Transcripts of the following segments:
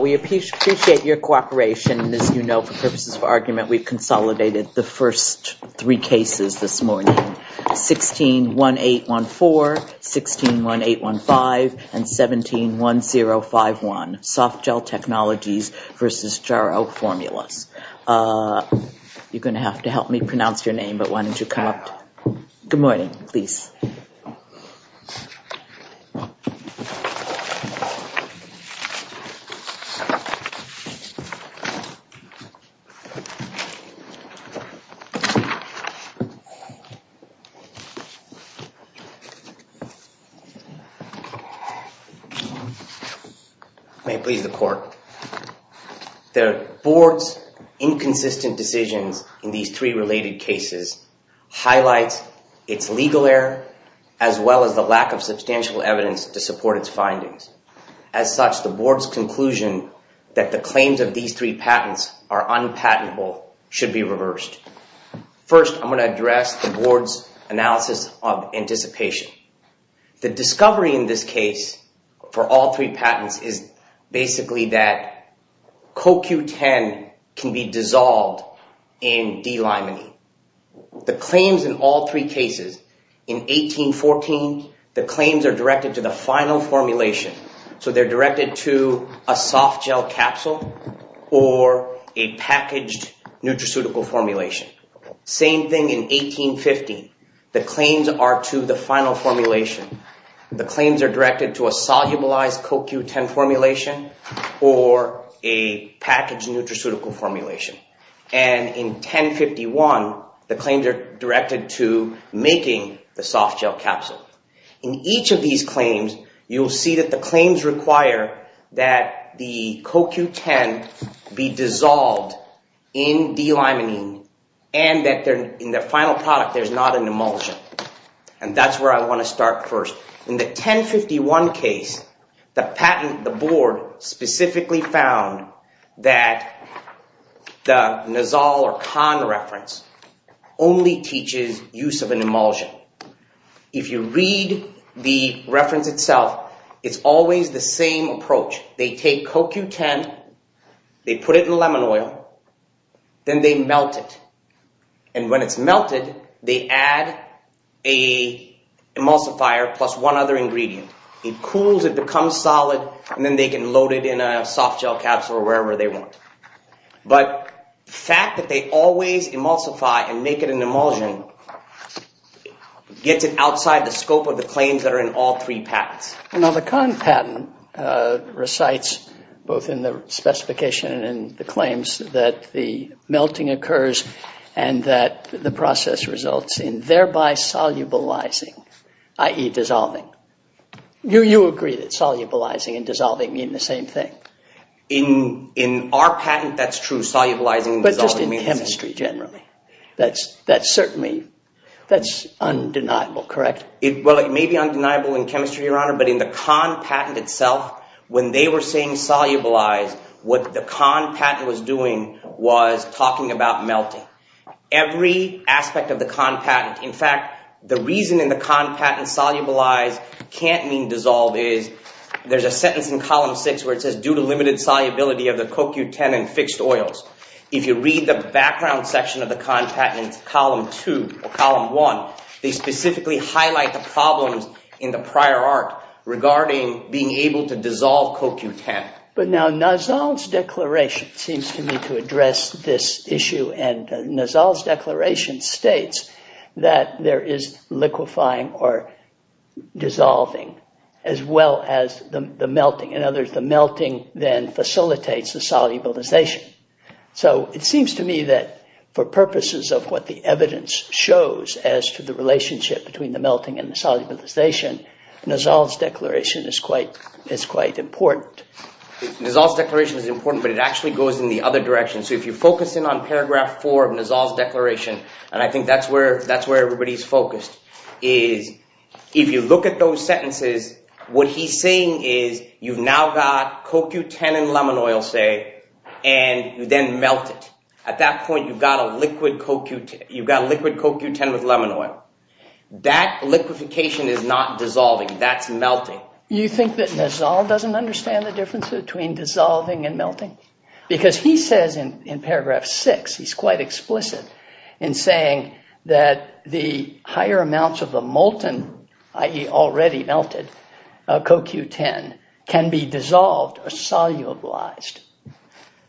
We appreciate your cooperation. As you know, for purposes of argument, we've consolidated the first three cases this morning, 16-1814, 16-1815, and 17-1051, Soft Gel Technologies v. Jarrow Formulas. You're going to have to help me pronounce your name, but why don't you stand up? May it please the Court, the Board's inconsistent decisions in these three related cases highlight its legal error as well as the lack of substantial evidence to support its findings. As such, the Board's conclusion that the claims of these three patents are unpatentable should be reversed. First, I'm going to address the Board's analysis of anticipation. The discovery in this case for all three patents is basically that CoQ10 can be dissolved in D-limonene. The claims in all three cases in 18-14, the claims are directed to the final formulation, so they're directed to a soft gel capsule or a packaged nutraceutical formulation. Same thing in 18-15, the claims are to the final formulation. The claims are directed to a solubilized CoQ10 formulation or a packaged nutraceutical formulation. And in 10-51, the claims are directed to making the soft gel capsule. In each of these claims, you'll see that the claims require that the CoQ10 be dissolved in D-limonene and that in the final product there's not an emulsion. And that's where I want to start first. In the 10-51 case, the board specifically found that the Nozal or Kahn reference only teaches use of an emulsion. If you read the reference itself, it's always the same approach. They take CoQ10, they put it in lemon oil, then they melt it. And when it's melted, they add a emulsifier plus one other ingredient. It cools, it becomes solid, and then they can load it in a soft gel capsule or wherever they want. But the fact that they always emulsify and make it an emulsion gets it outside the scope of the claims that are in all three patents. Now, the Kahn patent recites both in the specification and in the claims that the process results in thereby solubilizing, i.e. dissolving. You agree that solubilizing and dissolving mean the same thing? In our patent, that's true. Solubilizing and dissolving mean the same thing. But just in chemistry generally, that's certainly undeniable, correct? Well, it may be undeniable in chemistry, Your Honor, but in the Kahn patent itself, when they were saying the solubilizing aspect of the Kahn patent, in fact, the reason in the Kahn patent, solubilize can't mean dissolve, is there's a sentence in Column 6 where it says, due to limited solubility of the CoQ10 in fixed oils. If you read the background section of the Kahn patent in Column 2 or Column 1, they specifically highlight the problems in the prior art regarding being able to dissolve CoQ10. But now, Nassau's declaration seems to me to address this issue, and Nassau's declaration states that there is liquefying or dissolving as well as the melting. In other words, the melting then facilitates the solubilization. So it seems to me that for purposes of what the evidence shows as to the relationship between the melting and the solubilization, Nassau's declaration is quite important. Nassau's declaration is important, but it actually goes in the other direction. So if you focus in on Paragraph 4 of Nassau's declaration, and I think that's where everybody's focused, is if you look at those sentences, what he's saying is you've now got CoQ10 in lemon oil, say, and you then melt it. At that point, you've got a liquid CoQ10 with lemon oil. That liquefication is not dissolving, that's melting. You think that Nassau doesn't understand the difference between dissolving and melting? Because he says in Paragraph 6, he's quite explicit in saying that the higher amounts of the molten, i.e. already melted, CoQ10 can be dissolved or solubilized.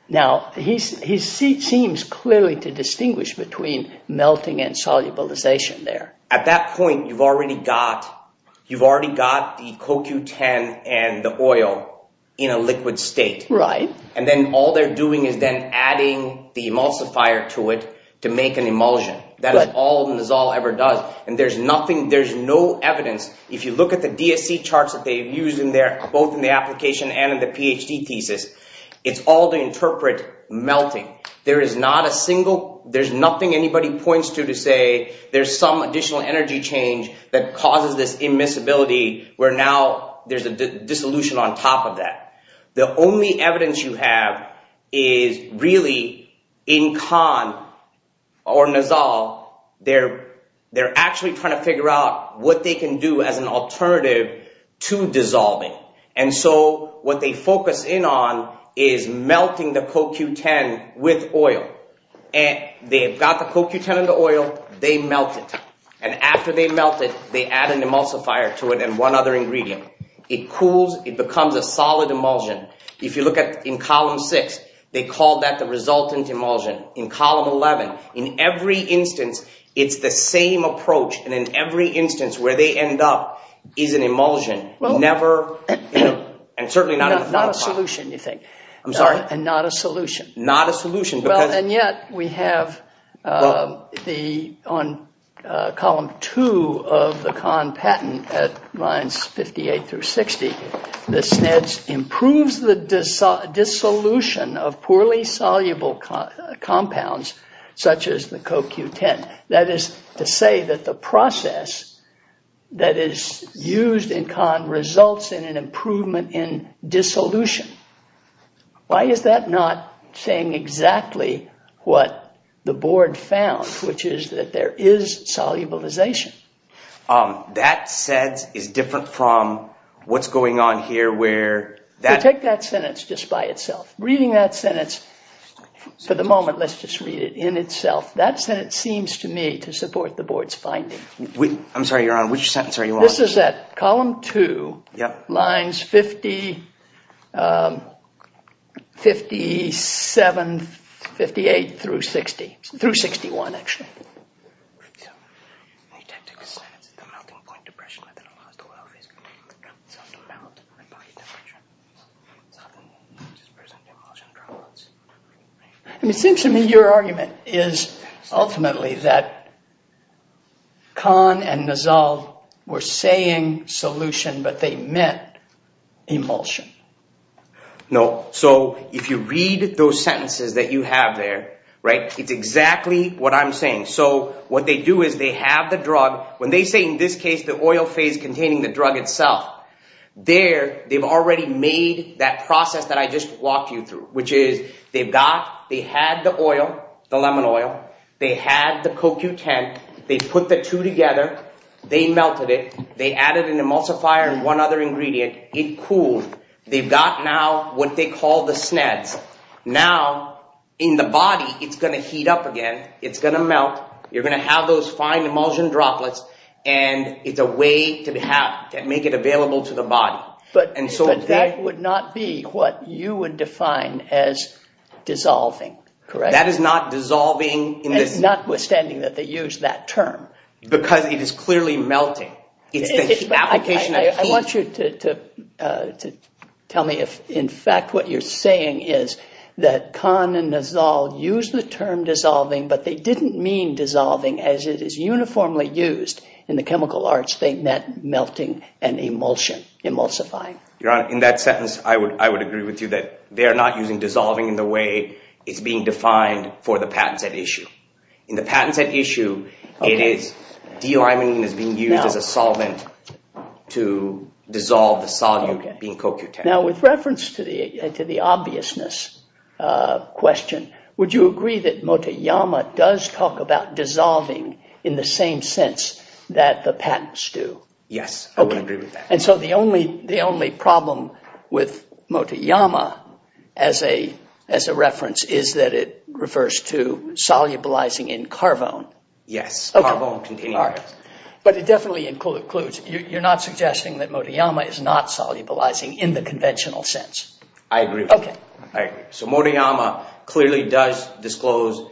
Now, he seems clearly to distinguish between melting and solubilization there. At that point, you've already got the CoQ10 and the oil in a liquid state. Right. And then all they're doing is then adding the emulsifier to it to make an emulsion. That is all Nassau ever does. And there's no evidence, if you look at the DSC charts that they've used in there, both in the application and in the PhD thesis, it's all to interpret melting. There's nothing anybody points to to say there's some additional energy change that causes this immiscibility where now there's a dissolution on top of that. The only evidence you have is really in Khan or Nassau, they're actually trying to figure out what they can do as an alternative to dissolving. And so what they focus in on is melting the CoQ10 with oil. And they've got the CoQ10 and the oil, they melt it. And after they melt it, they add an emulsifier to it and one other ingredient. It cools, it becomes a solid emulsion. If you look at in column six, they call that the resultant emulsion. In column 11, in every instance, it's the same approach. And in every instance where they end up is an emulsion, never, and certainly not a solution, you think. I'm sorry? And not a solution. Not a solution. Well, and yet we have on column two of the Khan patent at lines 58 through 60, the SNEDS improves the dissolution of poorly soluble compounds such as the CoQ10. That is to say that the process that is used in Khan results in an improvement in dissolution. Why is that not saying exactly what the board found, which is that there is solubilization? That SEDS is different from what's going on here where... So take that sentence just by itself. Reading that sentence for the moment, let's just read it in itself. That sentence seems to me to support the board's finding. I'm sorry, you're on. Which sentence are you on? Column two, lines 50, 57, 58 through 60, through 61, actually. And it seems to me your argument is ultimately that Khan and Nizal were saying solution, but they meant emulsion. No. So if you read those sentences that you have there, it's exactly what I'm saying. So what they do is they have the drug. When they say in this case, the oil phase containing the drug itself, there they've already made that process that I just walked you through, which is they've got, they had the oil, the lemon oil. They had the CoQ10. They put the two together. They melted it. They added an emulsifier and one other ingredient. It cooled. They've got now what they call the fine emulsion droplets. And it's a way to make it available to the body. But that would not be what you would define as dissolving, correct? That is not dissolving. It's notwithstanding that they use that term. Because it is clearly melting. It's the application of heat. I want you to tell me if in fact what you're saying is that Khan and Nizal used the term dissolving, but they didn't mean dissolving as it is uniformly used in the chemical arts. They meant melting and emulsion, emulsifying. Your Honor, in that sentence, I would agree with you that they are not using dissolving in the way it's being defined for the patent set issue. In the patent set issue, it is, dioramine is being used as a solvent to dissolve the solute being CoQ10. With reference to the obviousness question, would you agree that Motoyama does talk about dissolving in the same sense that the patents do? Yes, I would agree with that. And so the only problem with Motoyama as a reference is that it refers to solubilizing in carvone. Yes, carvone. But it definitely includes, you're not suggesting that Motoyama is not solubilizing in the conventional sense. I agree. So Motoyama clearly does disclose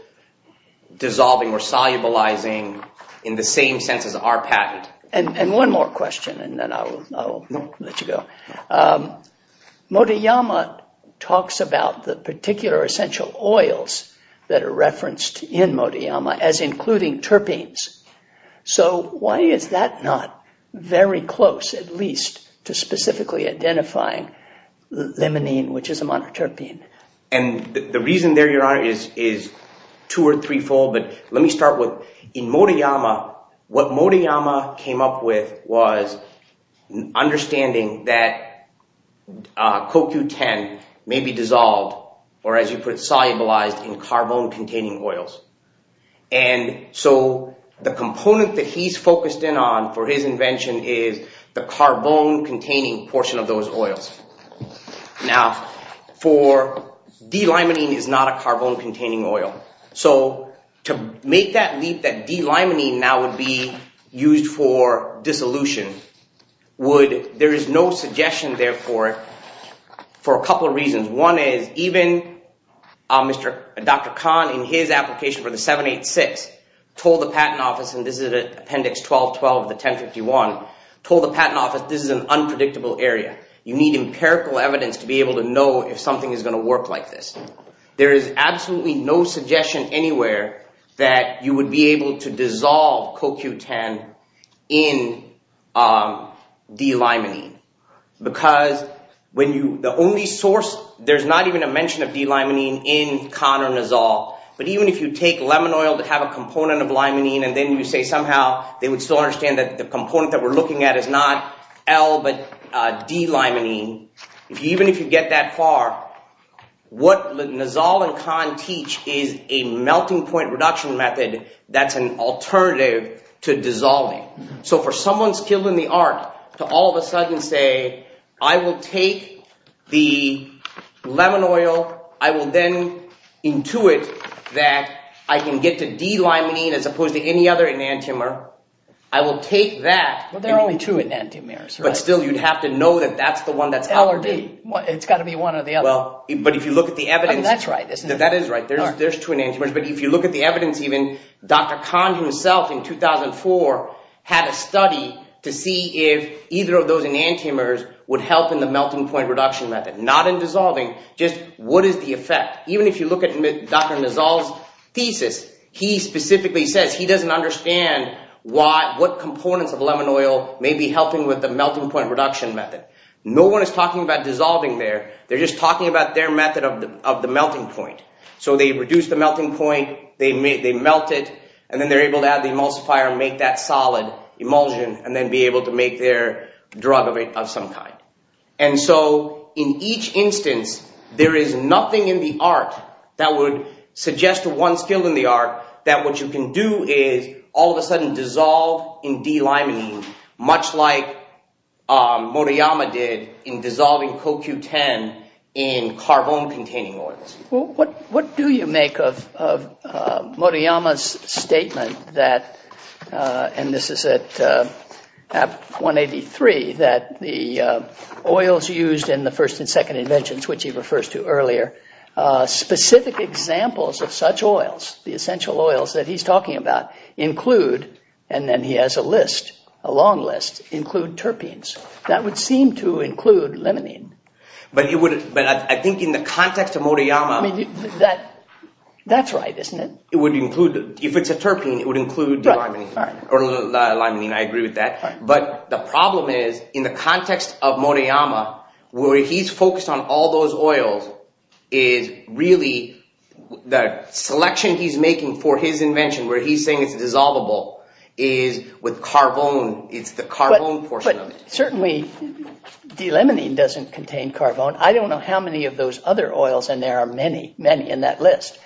dissolving or solubilizing in the same sense as our patent. And one more question and then I'll let you go. Motoyama talks about the particular essential oils that are referenced in Motoyama as including terpenes. So why is that not very close, at least, to specifically identifying limonene, which is a monoterpene? And the reason there, Your Honor, is two or threefold. But let me start with, in Motoyama, what Motoyama came up with was understanding that CoQ10 may be dissolved, or as you put it, solubilized in carvone-containing oils. And so the component that he's focused in on for his invention is the carvone-containing portion of those oils. Now, for D-limonene is not a carvone-containing oil. So to make that leap that D-limonene now would be used for dissolution, there is no suggestion there for it for a couple of reasons. One is even Dr. Khan, in his application for the 786, told the Patent Office, and this is at Appendix 1212 of the 1051, told the Patent Office, this is an unpredictable area. You need empirical evidence to be able to know if something is going to work like this. There is absolutely no suggestion anywhere that you would be able to dissolve CoQ10 in D-limonene. Because the only source, there's not even a mention of D-limonene in Khan or Nizal. But even if you take lemon oil to have a component of limonene, and then you say somehow they would still understand that the component that we're looking at is not L, but D-limonene. Even if you get that far, what Nizal and Khan teach is a melting point reduction method that's an alternative to dissolving. So for someone skilled in the art to all of a sudden say, I will take the lemon oil. I will then intuit that I can get to D-limonene as opposed to any other enantiomer. I will take that. Well, there are only two enantiomers. But still, you'd have to know that that's the one that's L or D. It's got to be one or the other. But if you look at the evidence. That's right, isn't it? That is right. There's two enantiomers. But if you look at the evidence, even Dr. Khan himself in 2004 had a study to see if either of those enantiomers would help in the melting point reduction method. Not in dissolving, just what is the effect? Even if you look at Dr. Nizal's thesis, he specifically says he doesn't understand what components of lemon oil may be helping with the melting point reduction method. No one is talking about dissolving there. They're just talking about their method of the melting point. So they reduce the melting point. They melt it. And then they're able to add the emulsifier and make that solid emulsion and then be able to make their drug of some kind. And so in each instance, there is nothing in the art that would suggest one skill in the art that what you can do is all of a sudden dissolve in D-limonene, much like Murayama did in dissolving CoQ10 in carbon containing oils. What do you make of Murayama's statement that, and this is at 183, that the oils used in the first and second inventions, which he refers to earlier, specific examples of such oils, the essential oils that he's talking about include, and then he has a list, a long list, include terpenes. That would seem to include limonene. But I think in the context of Murayama... That's right, isn't it? It would include, if it's a terpene, it would include D-limonene, or limonene. I agree with that. But the problem is, in the context of Murayama, where he's focused on all those oils, is really the selection he's making for his invention, where he's saying it's dissolvable, is with carbone. It's the carbone portion of it. Certainly, D-limonene doesn't contain carbone. I don't know how many of those other oils, and there are many, many in that list,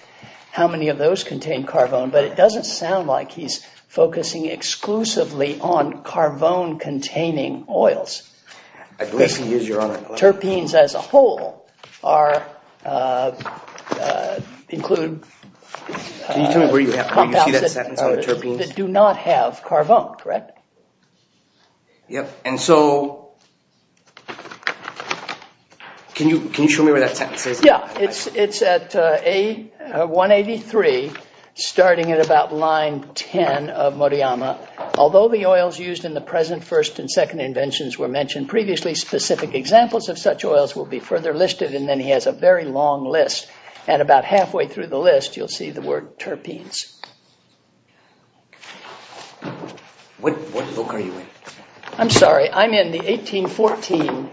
how many of those contain carbone. But it doesn't sound like he's focusing exclusively on carbone containing oils. I believe he is, Your Honor. Terpenes as a whole are, include... Can you tell me where you see that sentence on the terpenes? That do not have carbone, correct? Yep, and so, can you show me where that sentence is? Yeah, it's at 183, starting at about line 10 of Murayama. Although the oils used in the present first and second inventions were mentioned previously, specific examples of such oils will be further listed, and then he has a very long list. At about halfway through the list, you'll see the word terpenes. What book are you in? I'm sorry, I'm in the 1814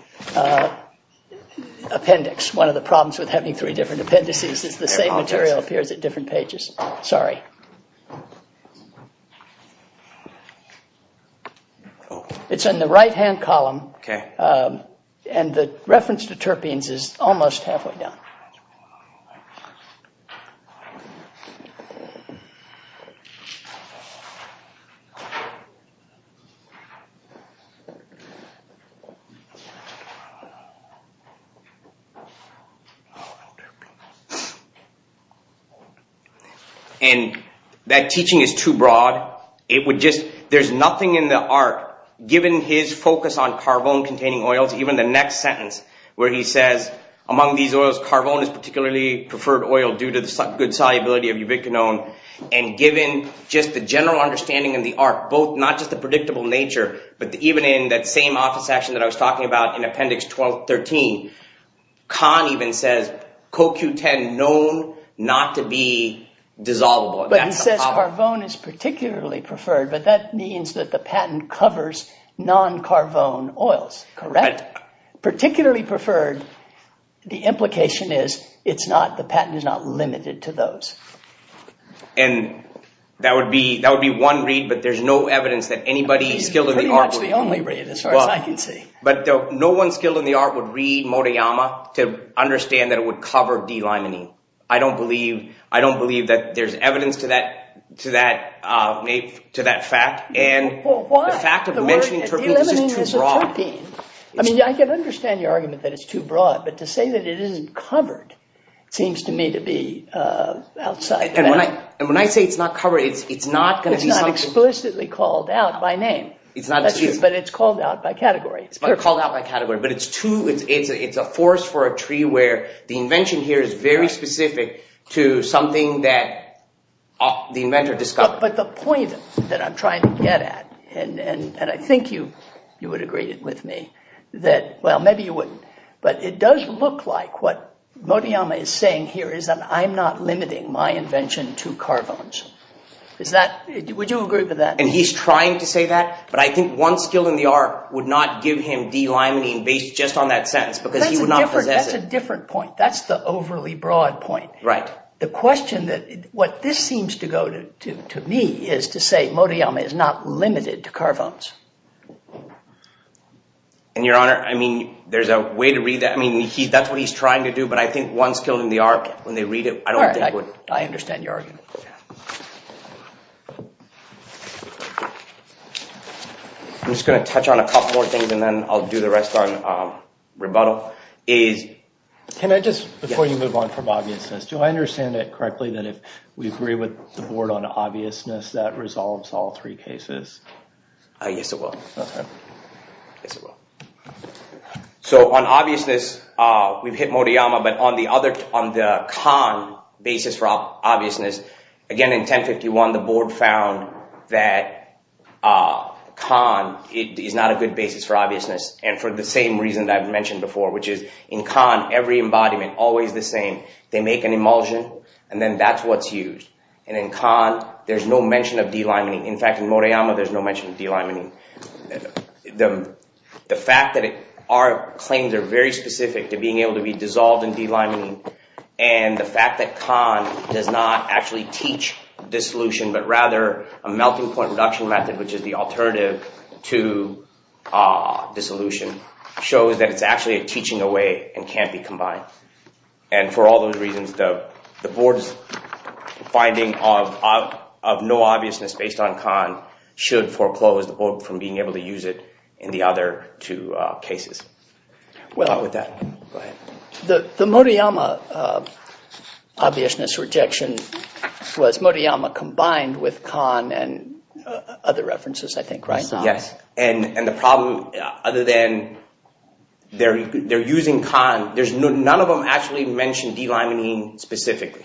appendix. One of the problems with having three different appendices is the same material appears at different pages. Sorry. It's in the right-hand column, and the reference to terpenes is almost halfway down. So, and that teaching is too broad. There's nothing in the art, given his focus on carbone-containing oils, even the next sentence where he says, among these oils, carbone is particularly preferred oil due to the good solubility of ubiquinone, and given just the general understanding of the art, not just the predictable nature, but even in that same office session that I was talking about in appendix 12-13, Kahn even says, CoQ10 known not to be dissolvable. But he says carbone is particularly preferred, but that means that the patent covers non-carbone oils, correct? Particularly preferred, the implication is the patent is not limited to those. And that would be one read, but there's no evidence that anybody skilled in the art would read. Pretty much the only read, as far as I can see. But no one skilled in the art would read Motoyama to understand that it would cover delimonene. I don't believe that there's evidence to that fact. And the fact of mentioning terpenes is just too broad. I mean, I can understand your argument that it's too broad, but to say that it isn't covered seems to me to be outside. And when I say it's not covered, it's not explicitly called out by name, but it's called out by category. It's called out by category, but it's a force for a tree where the invention here is very specific to something that the inventor discovered. But the point that I'm trying to get at, and I think you would agree with me that, well, maybe you wouldn't, but it does look like what Motoyama is saying here is that I'm not limiting my invention to carbones. Would you agree with that? And he's trying to say that, but I think one skilled in the art would not give him delimonene based just on that sentence because he would not possess it. That's a different point. That's the overly broad point. Right. The question that what this seems to go to me is to say Motoyama is not limited to carbones. And your honor, I mean, there's a way to read that. I mean, that's what he's trying to do. But I think one skilled in the art, when they read it, I don't think would. I understand your argument. I'm just going to touch on a couple more things, and then I'll do the rest on rebuttal. Can I just, before you move on from obviousness, do I understand it correctly that if we agree with the board on obviousness, that resolves all three cases? Yes, it will. So on obviousness, we've hit Motoyama, but on the Kahn basis for obviousness, again, in 1051, the board found that Kahn is not a good basis for obviousness. And for the same reason that I've mentioned before, which is in Kahn, every embodiment, always the same. They make an emulsion, and then that's what's used. And in Kahn, there's no mention of delimining. In fact, in Motoyama, there's no mention of delimining. The fact that our claims are very specific to being able to be dissolved in delimining, and the fact that Kahn does not actually teach dissolution, but rather a melting point reduction method, which is the alternative to dissolution, shows that it's actually a teaching away and can't be combined. And for all those reasons, the board's finding of no obviousness based on Kahn should foreclose the board from being able to use it in the other two cases. Well, the Motoyama obviousness rejection was Motoyama combined with Kahn and other references, I think, right? Yes. And the problem, other than they're using Kahn, none of them actually mention delimining specifically.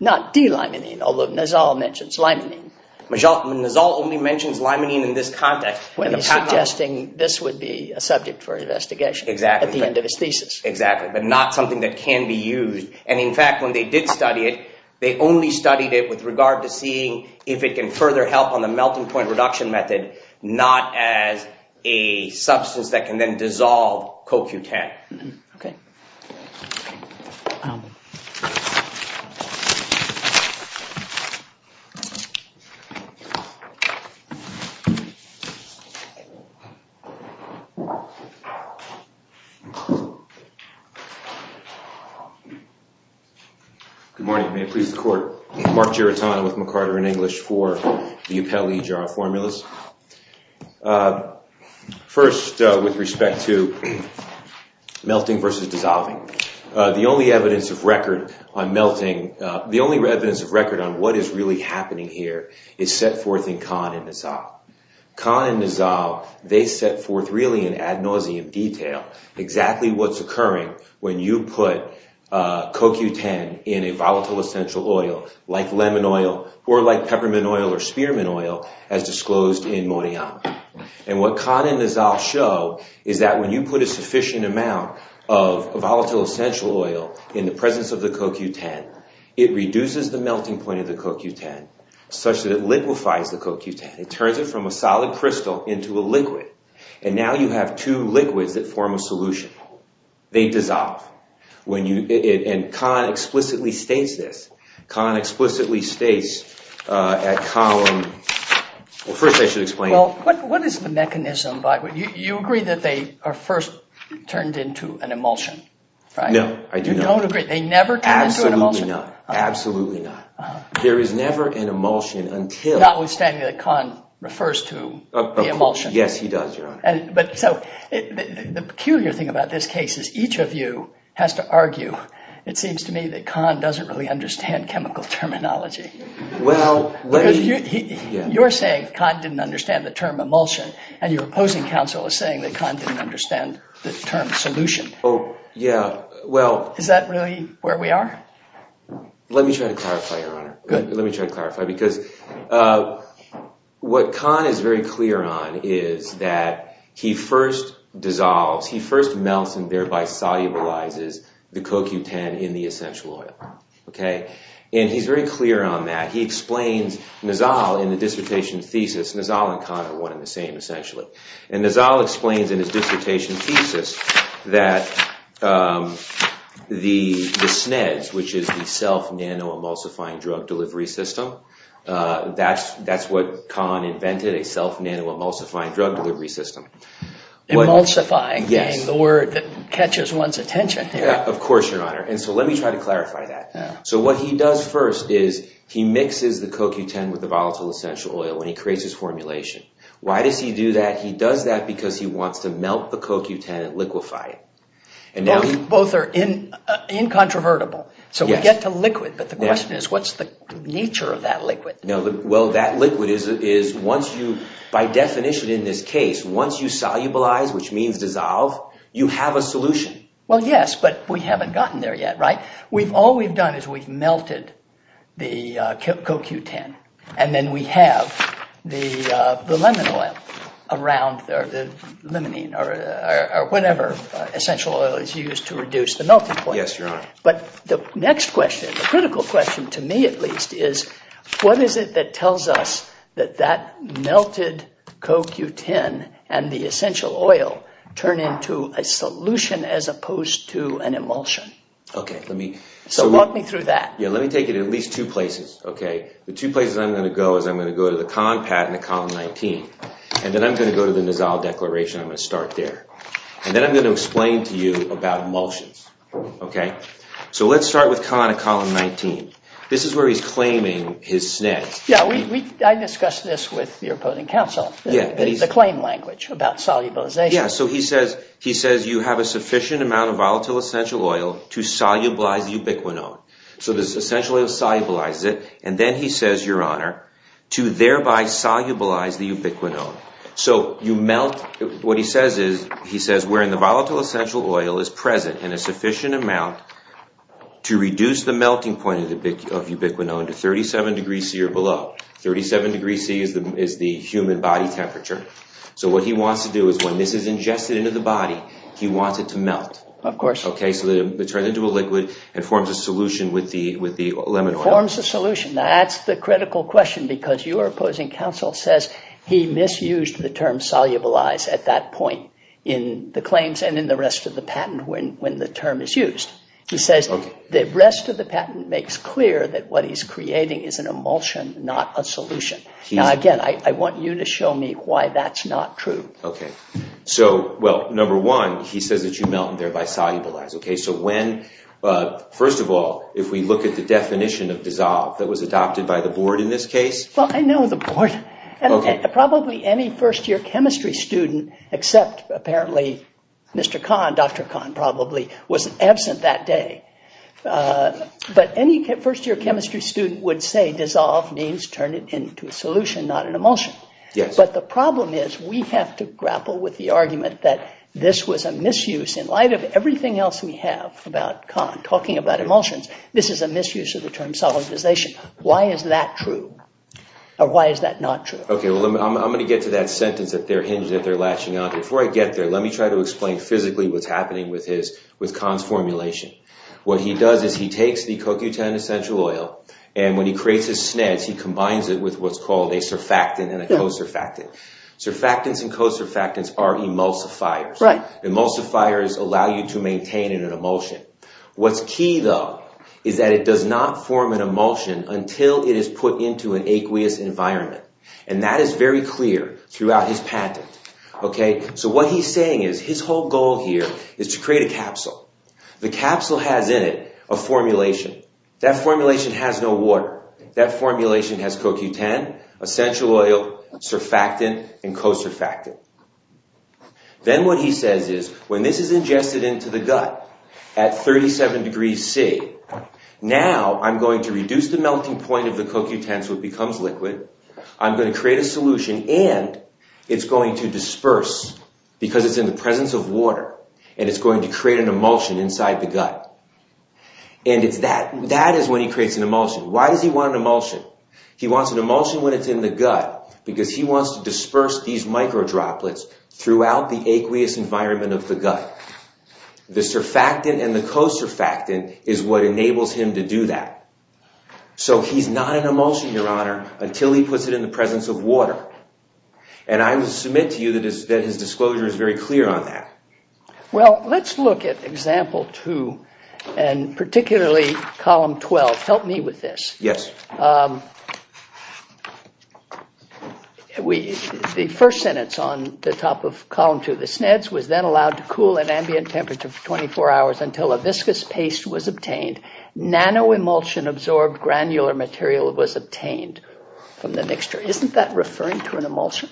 Not delimining, although Nizal mentions limining. Nizal only mentions limining in this context. When he's suggesting this would be a subject for investigation at the end of his thesis. Exactly. But not something that can be used. And in fact, when they did study it, they only studied it with regard to seeing if it can further help on the melting point reduction method, not as a substance that can then dissolve CoQ10. OK. Good morning. May it please the court. Mark Giratano with McCarter in English for the Upelli jar of formulas. First, with respect to melting versus dissolving. The only evidence of record on melting, the only evidence of record on what is really happening here is set forth in Kahn and Nizal. Kahn and Nizal, they set forth really in ad nauseum detail exactly what's occurring when you put CoQ10 in a volatile essential oil, like lemon oil or like peppermint oil or spearmint oil, as disclosed in Moynihan. And what Kahn and Nizal show is that when you put a sufficient amount of volatile essential oil in the presence of the CoQ10, it reduces the melting point of the CoQ10 such that it liquefies the CoQ10. It turns it from a solid crystal into a liquid. And now you have two liquids that form a solution. They dissolve. And Kahn explicitly states this. Kahn explicitly states at column, well, first I should explain. Well, what is the mechanism? You agree that they are first turned into an emulsion, right? No, I do not. You don't agree? They never turn into an emulsion? Absolutely not. There is never an emulsion until... Notwithstanding that Kahn refers to the emulsion. Yes, he does, Your Honor. But so the peculiar thing about this case is each of you has to argue. It seems to me that Kahn doesn't really understand chemical terminology. You're saying Kahn didn't understand the term emulsion. And your opposing counsel is saying that Kahn didn't understand the term solution. Oh, yeah, well... Is that really where we are? Let me try to clarify, Your Honor. Let me try to clarify. Because what Kahn is very clear on is that he first dissolves, he first melts and thereby solubilizes the CoQ10 in the essential oil. And he's very clear on that. He explains Nizal in the dissertation thesis. Nizal and Kahn are one and the same, essentially. And Nizal explains in his dissertation thesis that the SNEDS, which is the Self Nano Emulsifying Drug Delivery System, that's what Kahn invented, a Self Nano Emulsifying Drug Delivery System. Emulsifying being the word that catches one's attention here. Of course, Your Honor. And so let me try to clarify that. So what he does first is he mixes the CoQ10 with the volatile essential oil and he creates his formulation. Why does he do that? He does that because he wants to melt the CoQ10 and liquefy it. Both are incontrovertible. So we get to liquid. But the question is, what's the nature of that liquid? Now, well, that liquid is once you, by definition in this case, once you solubilize, which means dissolve, you have a solution. Well, yes. But we haven't gotten there yet, right? We've all we've done is we've melted the CoQ10. And then we have the lemon oil around or the limonene or whatever essential oil is used to reduce the melting point. Yes, Your Honor. But the next question, the critical question, to me at least, is what is it that tells us that that melted CoQ10 and the essential oil turn into a solution as opposed to an emulsion? OK, let me. So walk me through that. Yeah, let me take it at least two places, OK? The two places I'm going to go is I'm going to go to the CONPAT in column 19. And then I'm going to go to the Nizal Declaration. I'm going to start there. And then I'm going to explain to you about emulsions, OK? So let's start with CONPAT in column 19. This is where he's claiming his snags. Yeah, I discussed this with your opposing counsel, the claim language about solubilization. Yeah, so he says you have a sufficient amount of volatile essential oil to solubilize the ubiquinone. So this essential oil solubilizes it. And then he says, Your Honor, to thereby solubilize the ubiquinone. So you melt. What he says is he says wherein the volatile essential oil is present in a sufficient amount to reduce the melting point of ubiquinone to 37 degrees C or below. 37 degrees C is the human body temperature. So what he wants to do is when this is ingested into the body, he wants it to melt. Of course. OK, so it turns into a liquid and forms a solution with the lemon oil. Forms a solution. Now, that's the critical question because your opposing counsel says he misused the term solubilize at that point in the claims and in the rest of the patent when the term is used. He says the rest of the patent makes clear that what he's creating is an emulsion, not a solution. Now, again, I want you to show me why that's not true. OK, so, well, number one, he says that you melt and thereby solubilize. OK, so when, first of all, if we look at the definition of dissolve that was adopted by the board in this case. Well, I know the board and probably any first year chemistry student except apparently Mr. Kahn, Dr. Kahn probably was absent that day. But any first year chemistry student would say dissolve means turn it into a solution, not an emulsion. But the problem is we have to grapple with the argument that this was a misuse in light of everything else we have about Kahn talking about emulsions. This is a misuse of the term solubilization. Why is that true? Or why is that not true? OK, well, I'm going to get to that sentence that they're latching on to. Before I get there, let me try to explain physically what's happening with Kahn's formulation. What he does is he takes the CoQ10 essential oil and when he creates his SNEDs, he combines it with what's called a surfactant and a co-surfactant. Surfactants and co-surfactants are emulsifiers. Right. Emulsifiers allow you to maintain an emulsion. What's key, though, is that it does not form an emulsion until it is put into an aqueous environment. And that is very clear throughout his patent. OK, so what he's saying is his whole goal here is to create a capsule. The capsule has in it a formulation. That formulation has no water. That formulation has CoQ10, essential oil, surfactant, and co-surfactant. Then what he says is when this is ingested into the gut at 37 degrees C, now I'm going to reduce the melting point of the CoQ10 so it becomes liquid. I'm going to create a solution and it's going to disperse because it's in the presence of water and it's going to create an emulsion inside the gut. And that is when he creates an emulsion. Why does he want an emulsion? He wants an emulsion when it's in the gut because he wants to disperse these micro droplets throughout the aqueous environment of the gut. The surfactant and the co-surfactant is what enables him to do that. So he's not an emulsion, your honor, until he puts it in the presence of water. And I will submit to you that his disclosure is very clear on that. Well, let's look at example two and particularly column 12. Help me with this. Yes. The first sentence on the top of column two, the SNEDS was then allowed to cool at ambient temperature for 24 hours until a viscous paste was obtained. Nanoemulsion-absorbed granular material was obtained from the mixture. Isn't that referring to an emulsion?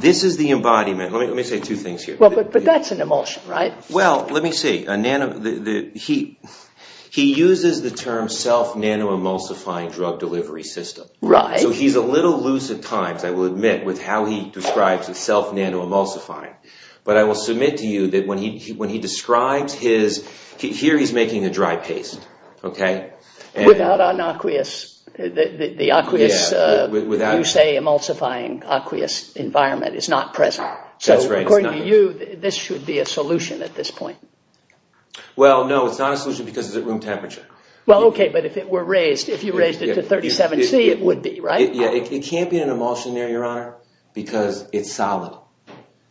This is the embodiment. Let me say two things here. But that's an emulsion, right? Well, let me see. He uses the term self-nanoemulsifying drug delivery system. Right. So he's a little loose at times, I will admit, with how he describes his self-nanoemulsifying. But I will submit to you that when he describes his... Here he's making a dry paste, okay? Without an aqueous... The aqueous, you say emulsifying aqueous environment is not present. So according to you, this should be a solution at this point. Well, no, it's not a solution because it's at room temperature. Well, okay, but if it were raised, if you raised it to 37C, it would be, right? Yeah, it can't be an emulsion there, Your Honor, because it's solid.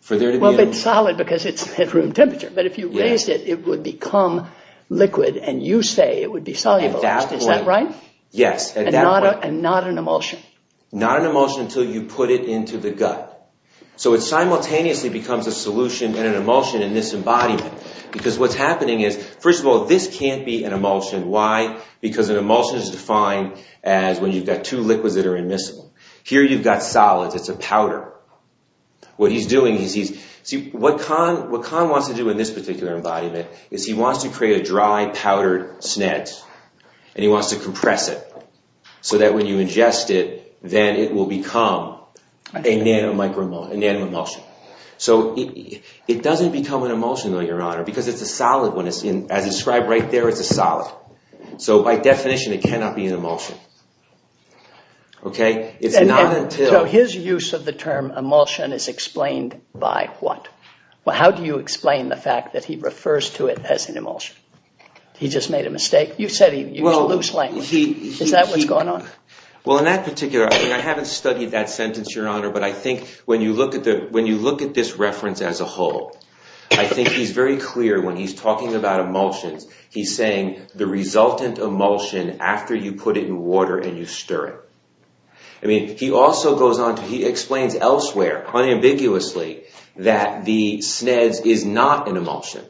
For there to be... Well, but solid because it's at room temperature. But if you raised it, it would become liquid. And you say it would be solubilized. Is that right? Yes, at that point. And not an emulsion. Not an emulsion until you put it into the gut. So it simultaneously becomes a solution and an emulsion in this embodiment. Because what's happening is, first of all, this can't be an emulsion. Why? Because an emulsion is defined as when you've got two liquids that are immiscible. Here you've got solids. It's a powder. What he's doing is he's... See, what Kahn wants to do in this particular embodiment is he wants to create a dry, powdered snet. And he wants to compress it so that when you ingest it, then it will become a nano emulsion. So it doesn't become an emulsion, though, Your Honor, As described right there, it's a solid. So by definition, it cannot be an emulsion. So his use of the term emulsion is explained by what? How do you explain the fact that he refers to it as an emulsion? He just made a mistake? You said he used a loose language. Is that what's going on? Well, in that particular... I haven't studied that sentence, Your Honor, but I think when you look at this reference as a whole, I think he's very clear when he's talking about emulsions, he's saying the resultant emulsion after you put it in water and you stir it. I mean, he also goes on to... He explains elsewhere, unambiguously, that the sneds is not an emulsion,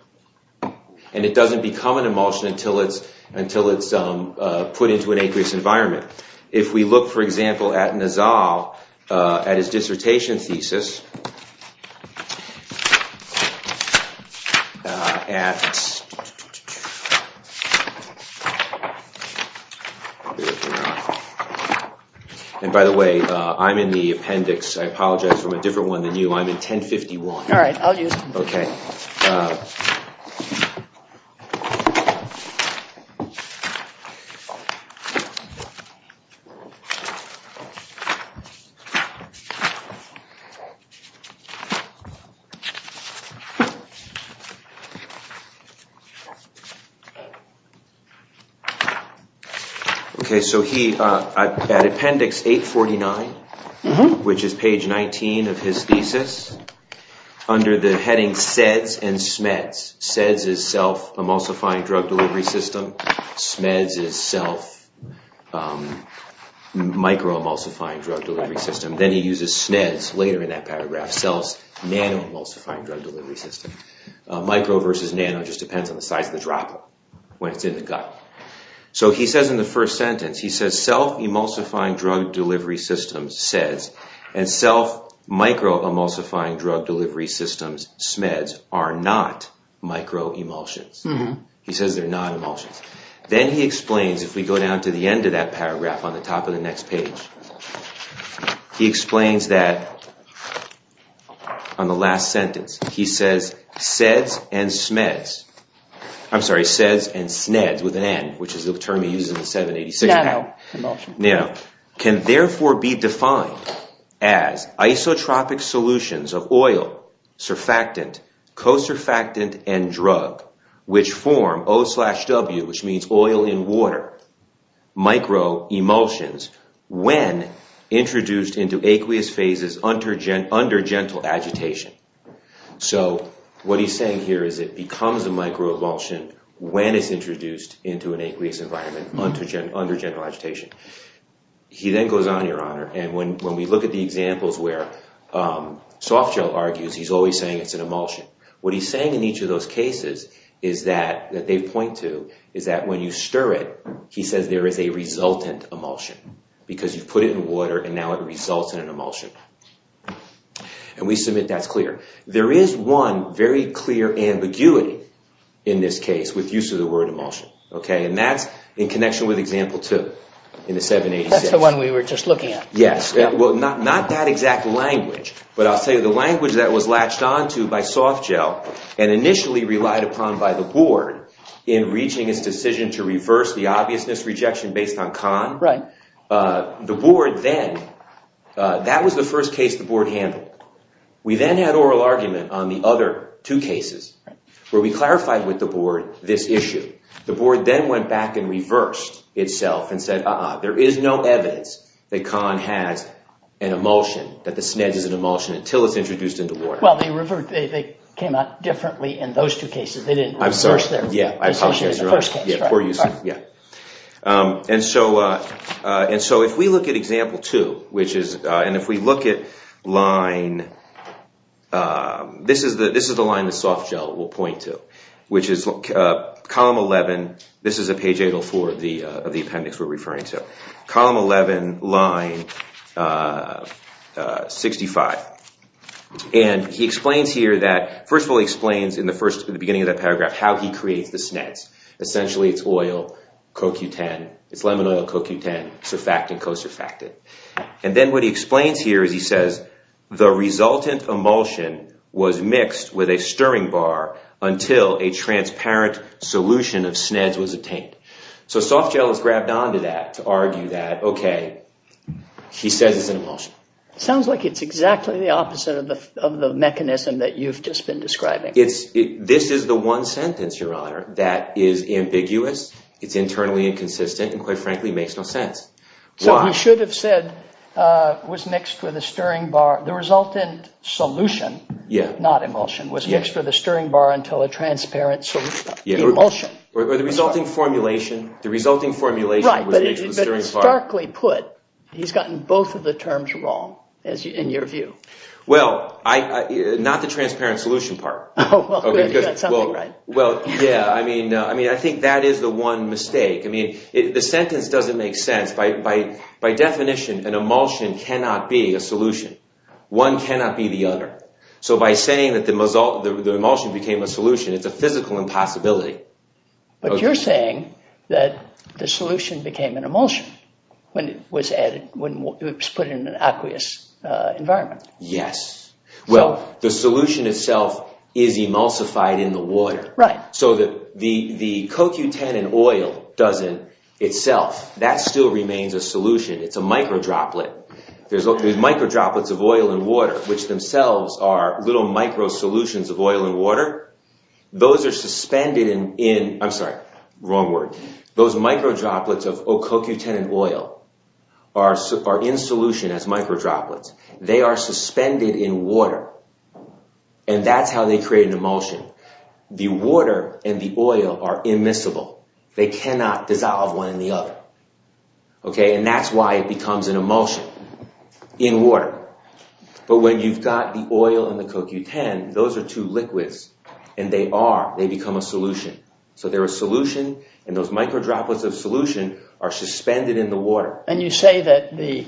and it doesn't become an emulsion until it's put into an aqueous environment. If we look, for example, at Nassau, at his dissertation thesis, at... And by the way, I'm in the appendix. I apologize, I'm a different one than you. I'm in 1051. All right, I'll use it. Okay. Okay, so he, at appendix 849, which is page 19 of his thesis, under the heading SEDS and SMEDS. SEDS is Self Emulsifying Drug Delivery System. SMEDS is Self Micro Emulsifying Drug Delivery System. Then he uses SNEDS later in that paragraph, Self Nano Emulsifying Drug Delivery System. Micro versus nano just depends on the size of the droplet when it's in the gut. So he says in the first sentence, he says, Self Emulsifying Drug Delivery Systems, SEDS, and Self Micro Emulsifying Drug Delivery Systems, SMEDS, are not micro emulsions. He says they're not emulsions. Then he explains, if we go down to the end of that paragraph, on the top of the next page, he explains that on the last sentence, he says SEDS and SMEDS, I'm sorry, SEDS and SNEDS with an N, which is the term he uses in 786. Nano emulsion. Nano. Can therefore be defined as isotropic solutions of oil, surfactant, cosurfactant, and drug, which form O slash W, which means oil in water, micro emulsions, when introduced into aqueous phases under gentle agitation. So what he's saying here is it becomes a micro emulsion when it's introduced into an aqueous environment under gentle agitation. He then goes on, Your Honor, and when we look at the examples where Softgel argues he's always saying it's an emulsion. What he's saying in each of those cases is that, that they point to, is that when you stir it, he says there is a resultant emulsion. Because you've put it in water and now it results in an emulsion. And we submit that's clear. There is one very clear ambiguity in this case with use of the word emulsion, okay, and that's in connection with example two in the 786. That's the one we were just looking at. Yes. Well, not that exact language, but I'll tell you the language that was latched onto by Softgel and initially relied upon by the board in reaching his decision to reverse the obviousness rejection based on Kahn, the board then, that was the first case the board handled. We then had oral argument on the other two cases where we clarified with the board this issue. The board then went back and reversed itself and said, uh-uh, there is no evidence that Kahn has an emulsion, that the SNED is an emulsion until it's introduced into water. Well, they came out differently in those two cases. They didn't reverse their decision in the first case. Yeah, poor use of it, yeah. Um, and so, uh, uh, and so if we look at example two, which is, uh, and if we look at line, uh, this is the, this is the line that Softgel will point to, which is, uh, column 11. This is a page 804 of the, uh, of the appendix we're referring to. Column 11, line, uh, uh, 65. And he explains here that, first of all, he explains in the first, in the beginning of that paragraph how he creates the SNEDs. Essentially, it's oil, co-Q10, it's lemon oil, co-Q10, surfactant, co-surfactant. And then what he explains here is he says, the resultant emulsion was mixed with a stirring bar until a transparent solution of SNEDs was obtained. So Softgel has grabbed onto that to argue that, okay, he says it's an emulsion. Sounds like it's exactly the opposite of the, of the mechanism that you've just been describing. It's, this is the one sentence, Your Honor, that is ambiguous. It's internally inconsistent and, quite frankly, makes no sense. So he should have said, uh, was mixed with a stirring bar. The resultant solution, Yeah. not emulsion, was mixed with a stirring bar until a transparent solution, emulsion. Or the resulting formulation, the resulting formulation, Right, but starkly put, he's gotten both of the terms wrong, as you, in your view. Well, I, I, not the transparent solution part. Oh, well, you got something right. Well, yeah, I mean, I mean, I think that is the one mistake. I mean, the sentence doesn't make sense. By definition, an emulsion cannot be a solution. One cannot be the other. So by saying that the emulsion became a solution, it's a physical impossibility. But you're saying that the solution became an emulsion when it was added, when it was put in an aqueous environment. Yes. Well, the solution itself is emulsified in the water. So the, the, the cocutanin oil doesn't itself, that still remains a solution. It's a micro droplet. There's micro droplets of oil and water, which themselves are little micro solutions of oil and water. Those are suspended in, in, I'm sorry, wrong word. Those micro droplets of cocutanin oil are in solution as micro droplets. They are suspended in water. And that's how they create an emulsion. The water and the oil are immiscible. They cannot dissolve one in the other. Okay. And that's why it becomes an emulsion in water. But when you've got the oil and the cocutanin, those are two liquids and they are, they become a solution. So they're a solution. And those micro droplets of solution are suspended in the water. And you say that the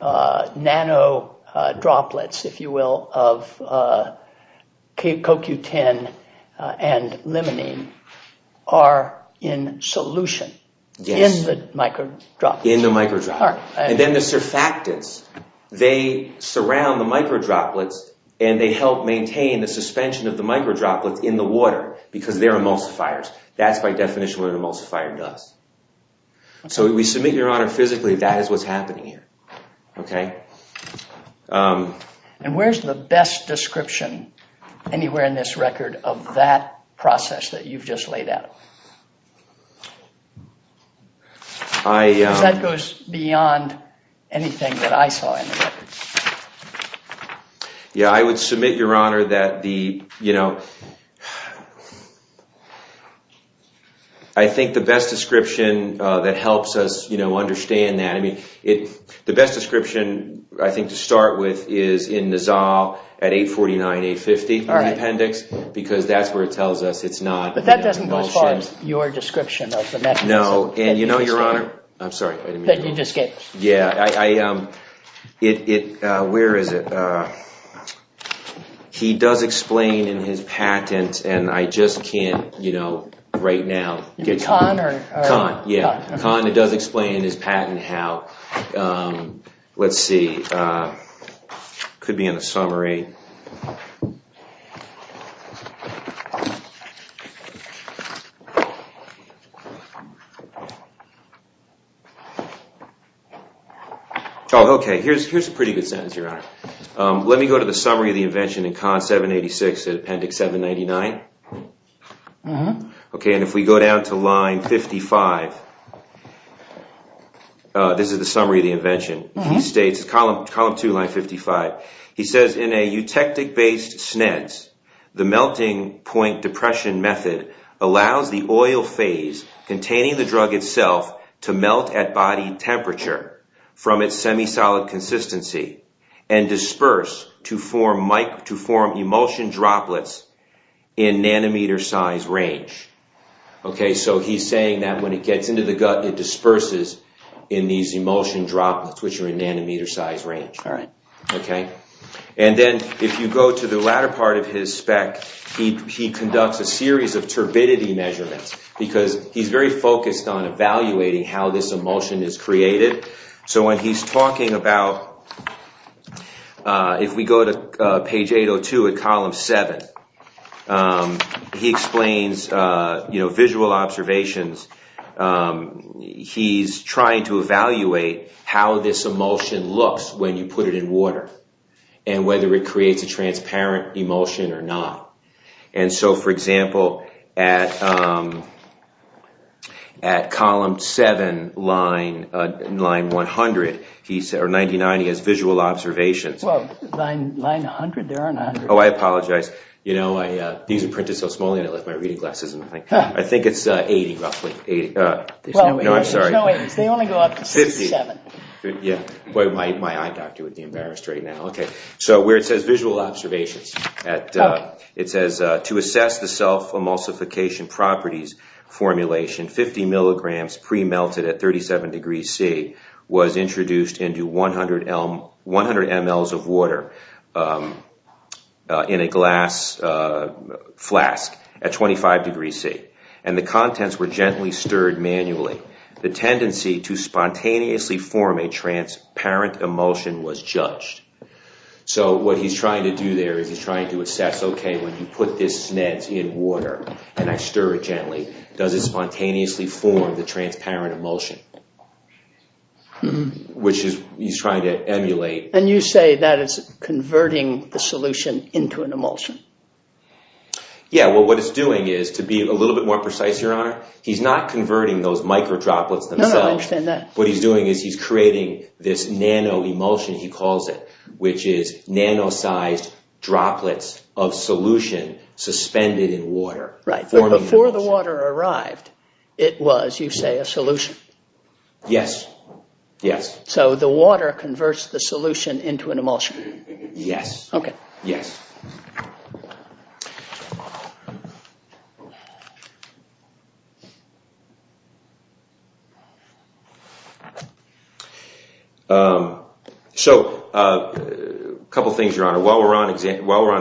nano droplets, if you will, of cocutanin and limonene are in solution in the micro droplets. In the micro droplets. And then the surfactants, they surround the micro droplets and they help maintain the suspension of the micro droplets in the water because they're emulsifiers. That's by definition what an emulsifier does. So we submit, Your Honor, physically that is what's happening here. Okay. And where's the best description anywhere in this record of that process that you've just laid out? That goes beyond anything that I saw. Yeah. I would submit, Your Honor, that the, you know, I think the best description that helps us, you know, understand that, I mean, the best description, I think to start with, is in Nizal at 849, 850 in the appendix. Because that's where it tells us it's not an emulsion. But that doesn't go as far as your description of the mechanism. No. And you know, Your Honor, I'm sorry, I didn't mean to. That you just gave us. Yeah. Where is it? Uh, he does explain in his patent, and I just can't, you know, right now, get caught. Con or? Con, yeah. Con, it does explain in his patent how, um, let's see, could be in a summary. Here's a pretty good sentence, Your Honor. Let me go to the summary of the invention in Con 786, Appendix 799. Okay, and if we go down to line 55, this is the summary of the invention. He states, column 2, line 55. He says, Okay, so he's saying that when it gets into the gut, it disperses in these emulsion droplets, which are in nanometer size range. All right. Okay, and then if you go to the latter part of his spec, he conducts a series of turbidity measurements. Because he's very focused on evaluating how this emulsion is created. So when he's talking about, if we go to page 802 at column 7, he explains, you know, visual observations. He's trying to evaluate how this emulsion looks when you put it in water, and whether it creates a transparent emulsion or not. And so, for example, at column 7, line 100, or 99, he has visual observations. Oh, I apologize. You know, these are printed so small, I left my reading glasses in the thing. I think it's 80, roughly. No, I'm sorry. There's no 80s. They only go up to 57. Yeah, boy, my eye doctor would be embarrassed right now. Okay, so where it says visual observations, at, it says, to assess the self-emulsification properties formulation, 50 milligrams pre-melted at 37 degrees C was introduced into 100 mls of water in a glass flask at 25 degrees C. And the contents were gently stirred manually. The tendency to spontaneously form a transparent emulsion was judged. So what he's trying to do there is he's trying to assess, okay, when you put this SNED in water, and I stir it gently, does it spontaneously form the transparent emulsion? Which he's trying to emulate. And you say that is converting the solution into an emulsion. Yeah, well, what it's doing is, to be a little bit more precise, Your Honor, he's not converting those micro droplets themselves. No, no, I understand that. What he's doing is he's creating this nano emulsion, he calls it, which is nano-sized droplets of solution suspended in water. Right, but before the water arrived, it was, you say, a solution. Yes, yes. So the water converts the solution into an emulsion. Yes. Okay. Yes. So, a couple things, Your Honor, while we're on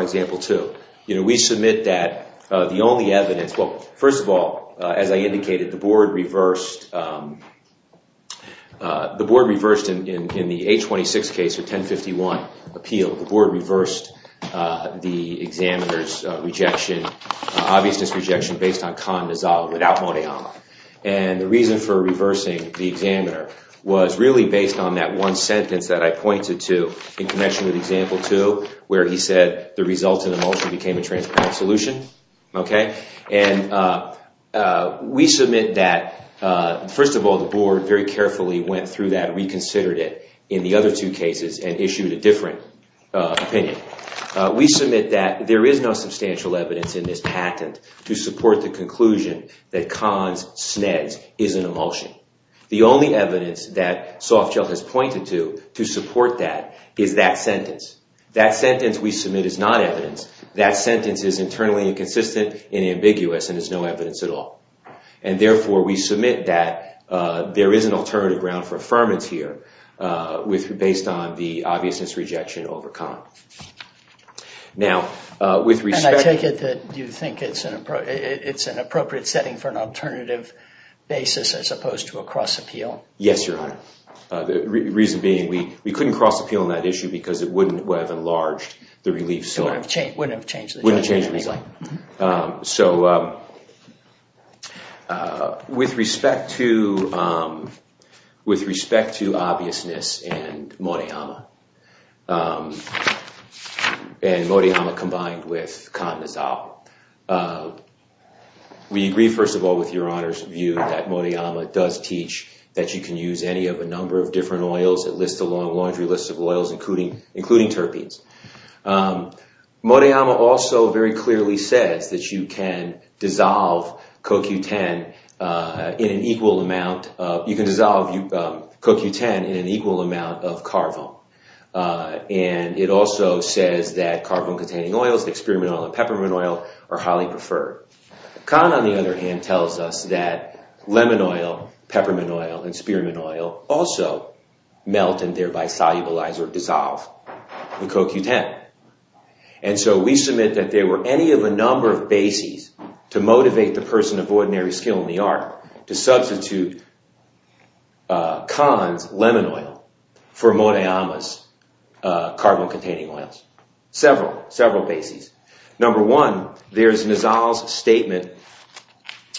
example two, you know, we submit that the only evidence, well, first of all, as I indicated, the board reversed in the 826 case, or 1051 appeal, the board reversed the examiner's rejection, obviousness rejection, based on con dissolved without money on it. And the reason for reversing the examiner, was really based on that one sentence that I pointed to, in connection with example two, where he said the resultant emulsion became a transparent solution. Okay, and we submit that, first of all, the board very carefully went through that, reconsidered it, in the other two cases, and issued a different opinion. We submit that there is no substantial evidence in this patent to support the conclusion that cons sneds is an emulsion. The only evidence that Softshell has pointed to, to support that, is that sentence. That sentence we submit is not evidence. That sentence is internally inconsistent and ambiguous, and is no evidence at all. And therefore, we submit that there is an alternative ground for affirmance here, based on the obviousness rejection over con. Now, with respect... And I take it that you think it's an appropriate setting for an alternative basis, as opposed to a cross appeal? Yes, your honor. The reason being, we couldn't cross appeal on that issue, because it wouldn't have enlarged the relief. So it wouldn't have changed the reasoning. So, with respect to obviousness and Morihama, and Morihama combined with con Nizal, we agree, first of all, with your honor's view that Morihama does teach that you can use any of a number of different oils that list along laundry lists of oils, including terpenes. Morihama also very clearly says that you can dissolve CoQ10 in an equal amount of... You can dissolve CoQ10 in an equal amount of carvone. And it also says that carvone containing oils, like spearmint oil and peppermint oil, are highly preferred. Con, on the other hand, tells us that lemon oil, peppermint oil, and spearmint oil also melt and thereby solubilize or dissolve the CoQ10. And so we submit that there were any of a number of bases to motivate the person of ordinary skill in the art to substitute con's lemon oil for Morihama's carvone containing oils. Several, several bases. Number one, there's Nizal's statement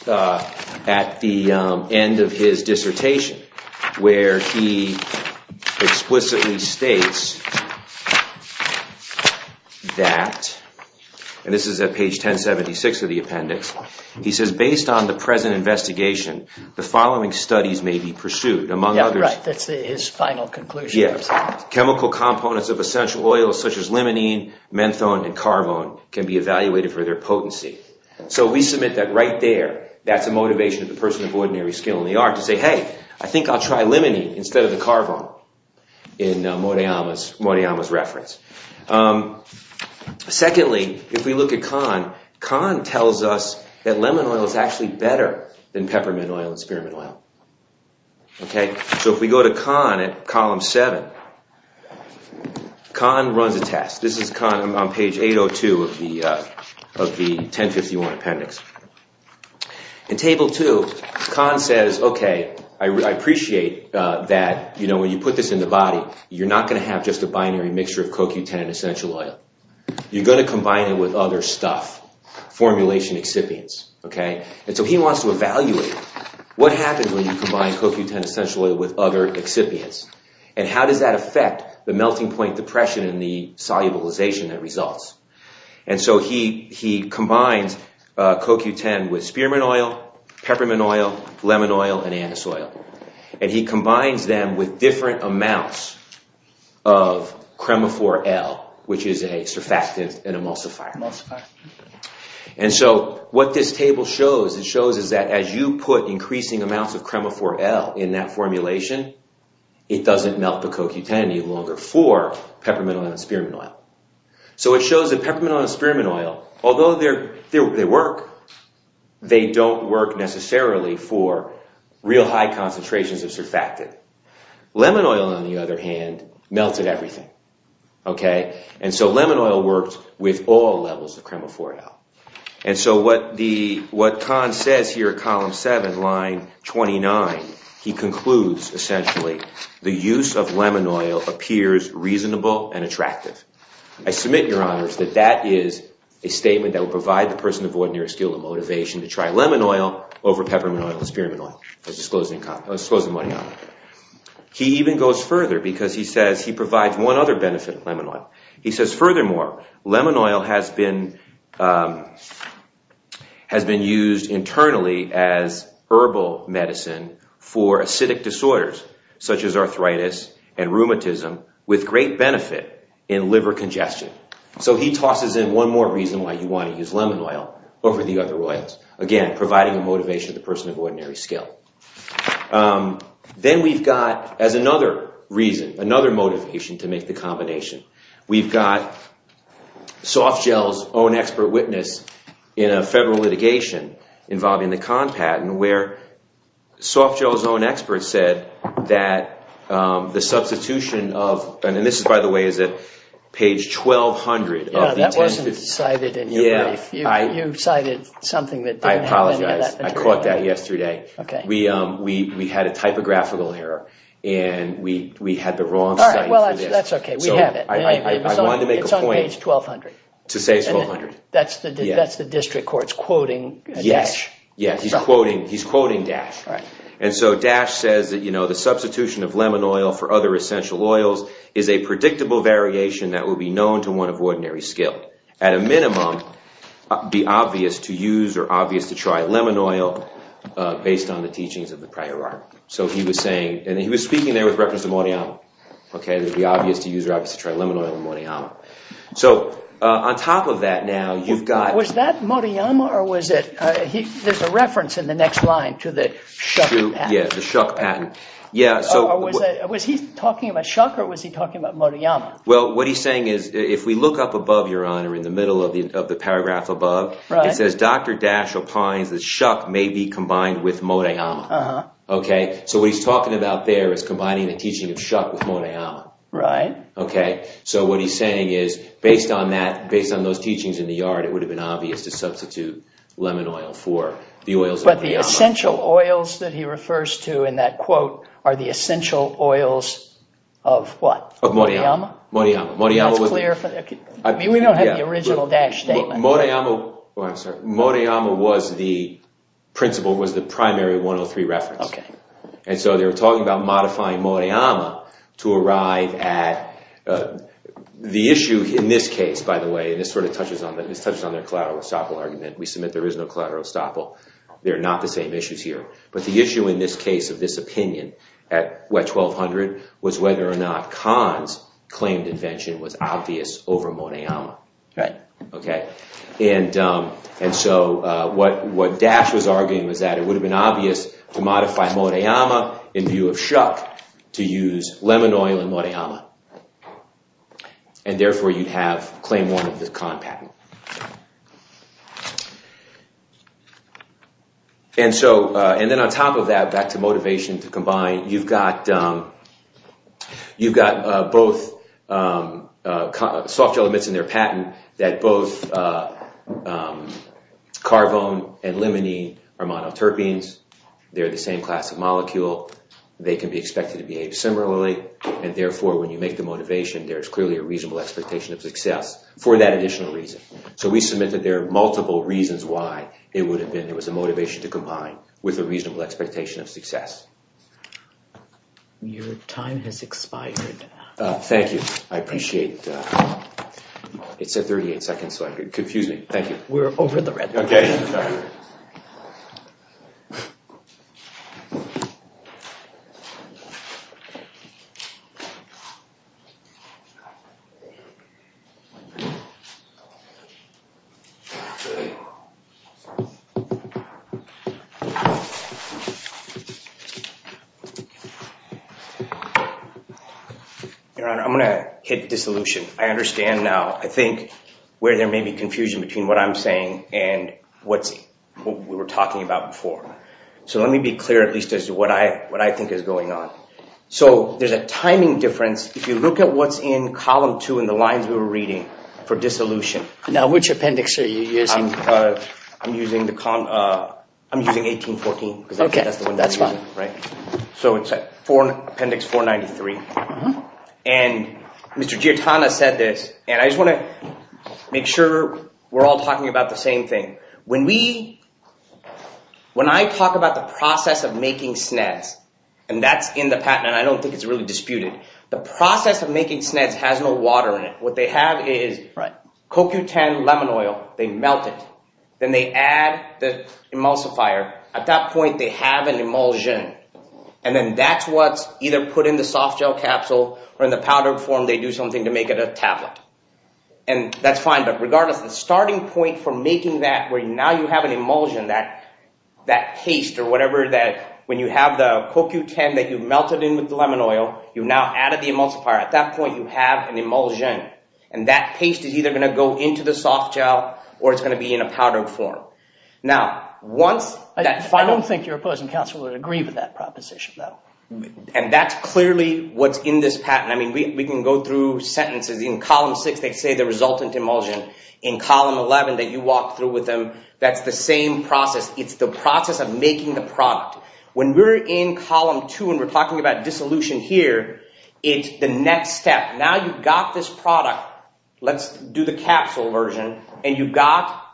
at the end of his dissertation, where he explicitly states that, and this is at page 1076 of the appendix, he says, based on the present investigation, the following studies may be pursued, among others... Right, that's his final conclusion. Chemical components of essential oils, such as limonene, menthone, and carvone, can be evaluated for their potency. So we submit that right there, that's a motivation of the person of ordinary skill in the art to say, hey, I think I'll try limonene instead of the carvone in Morihama's reference. Secondly, if we look at con, con tells us that lemon oil is actually better than peppermint oil and spearmint oil. Okay, so if we go to con at column seven, con runs a test. This is con on page 802 of the 1051 appendix. In table two, con says, okay, I appreciate that, you know, when you put this in the body, you're not going to have just a binary mixture of CoQ10 and essential oil. You're going to combine it with other stuff, formulation excipients, okay? And so he wants to evaluate what happens when you combine CoQ10 essential oil with other excipients, and how does that affect the melting point depression and the solubilization that results? And so he combines CoQ10 with spearmint oil, peppermint oil, lemon oil, and anise oil. And he combines them with different amounts of cremophore L, which is a surfactant and emulsifier. And so what this table shows, as you put increasing amounts of cremophore L in that formulation, it doesn't melt the CoQ10 any longer for peppermint oil and spearmint oil. So it shows that peppermint oil and spearmint oil, although they work, they don't work necessarily for real high concentrations of surfactant. Lemon oil, on the other hand, melted everything, okay? And so lemon oil worked with all levels of cremophore L. And so what Kahn says here at column seven, line 29, he concludes, essentially, the use of lemon oil appears reasonable and attractive. I submit, Your Honors, that that is a statement that would provide the person of ordinary skill the motivation to try lemon oil over peppermint oil and spearmint oil. That's disclosing the money. He even goes further, because he says he provides one other benefit of lemon oil. He says, furthermore, lemon oil has been used internally as herbal medicine for acidic disorders, such as arthritis and rheumatism, with great benefit in liver congestion. So he tosses in one more reason why you want to use lemon oil over the other oils. Again, providing a motivation to the person of ordinary skill. Then we've got, as another reason, another motivation to make the combination, we've got Softgel's own expert witness in a federal litigation involving the Kahn patent where Softgel's own expert said that the substitution of, and this, by the way, is at page 1,200. Yeah, that wasn't cited in your brief. You cited something that didn't have any of that material. I apologize. I caught that yesterday. OK. We had a typographical error, and we had the wrong study for this. All right. Well, that's OK. We have it. It's on page 1,200. To say it's 1,200. That's the district court's quoting Dasch. Yes, he's quoting Dasch. And so Dasch says that, you know, the substitution of lemon oil for other essential oils is a predictable variation that will be known to one of ordinary skill. At a minimum, it would be obvious to use or obvious to try lemon oil based on the teachings of the prior art. So he was saying, and he was speaking there with reference to Moriama. OK, it would be obvious to use or obvious to try lemon oil and Moriama. So on top of that now, you've got... Was that Moriama or was it... There's a reference in the next line to the Schuck patent. Yeah, the Schuck patent. Yeah, so... Or was he talking about Schuck or was he talking about Moriama? Well, what he's saying is, if we look up above, Your Honor, in the middle of the paragraph above, it says, Dr. Dasch opines that Schuck may be combined with Moriama. OK. So what he's talking about there is combining the teaching of Schuck with Moriama. Right. OK. So what he's saying is, based on that, based on those teachings in the yard, it would have been obvious to substitute lemon oil for the oils of Moriama. But the essential oils that he refers to in that quote are the essential oils of what? Of Moriama. Moriama. Moriama was clear... I mean, we don't have the original Dasch statement. Moriama... Oh, I'm sorry. Moriama was the principle, was the primary 103 reference. OK. And so they were talking about modifying Moriama to arrive at... The issue in this case, by the way, and this sort of touches on that, this touches on their collateral estoppel argument. We submit there is no collateral estoppel. They're not the same issues here. But the issue in this case of this opinion at WET 1200 was whether or not Kahn's claimed invention was obvious over Moriama. Right. OK. And so what Dasch was arguing was that it would have been obvious to modify Moriama in view of Schuck to use lemon oil in Moriama. And therefore, you'd have claim one of the Kahn patent. And then on top of that, back to motivation to combine, you've got both soft gel emits in their patent that both carvone and limonene are monoterpenes. They're the same class of molecule. They can be expected to behave similarly. And therefore, when you make the motivation, there's clearly a reasonable expectation of success for that additional reason. So we submit that there are multiple reasons why it would have been... There was a motivation to combine with a reasonable expectation of success. Your time has expired. Thank you. I appreciate it. It's at 38 seconds, so I could confuse me. Thank you. We're over the red. OK. Your Honor, I'm going to hit dissolution. I understand now, I think, where there may be confusion between what I'm saying and what we were talking about before. So let me be clear, at least, as to what I think is going on. So there's a timing difference. If you look at what's in column two in the lines we were reading for dissolution... Now, which appendix are you using? I'm using the column... I'm using 1814, because that's the one that's fine, right? So it's appendix 493. And Mr. Giortano said this, and I just want to make sure we're all talking about the same thing. When we... When I talk about the process of making SNEDS, and that's in the patent, and I don't think it's really disputed, the process of making SNEDS has no water in it. What they have is... Right. ...cocutane lemon oil. They melt it. Then they add the emulsifier. At that point, they have an emulsion. And then that's what's either put in the soft gel capsule, or in the powdered form, they do something to make it a tablet. And that's fine. But regardless, the starting point for making that, where now you have an emulsion, that paste or whatever that... When you have the cocutane that you've melted in with the lemon oil, you've now added the emulsifier. At that point, you have an emulsion. And that paste is either going to go into the soft gel, or it's going to be in a powdered form. Now, once that final... And that's clearly what's in this patent. I mean, we can go through sentences. In column six, they say the resultant emulsion. In column 11 that you walked through with them, that's the same process. It's the process of making the product. When we're in column two, and we're talking about dissolution here, it's the next step. Now you've got this product. Let's do the capsule version. And you've got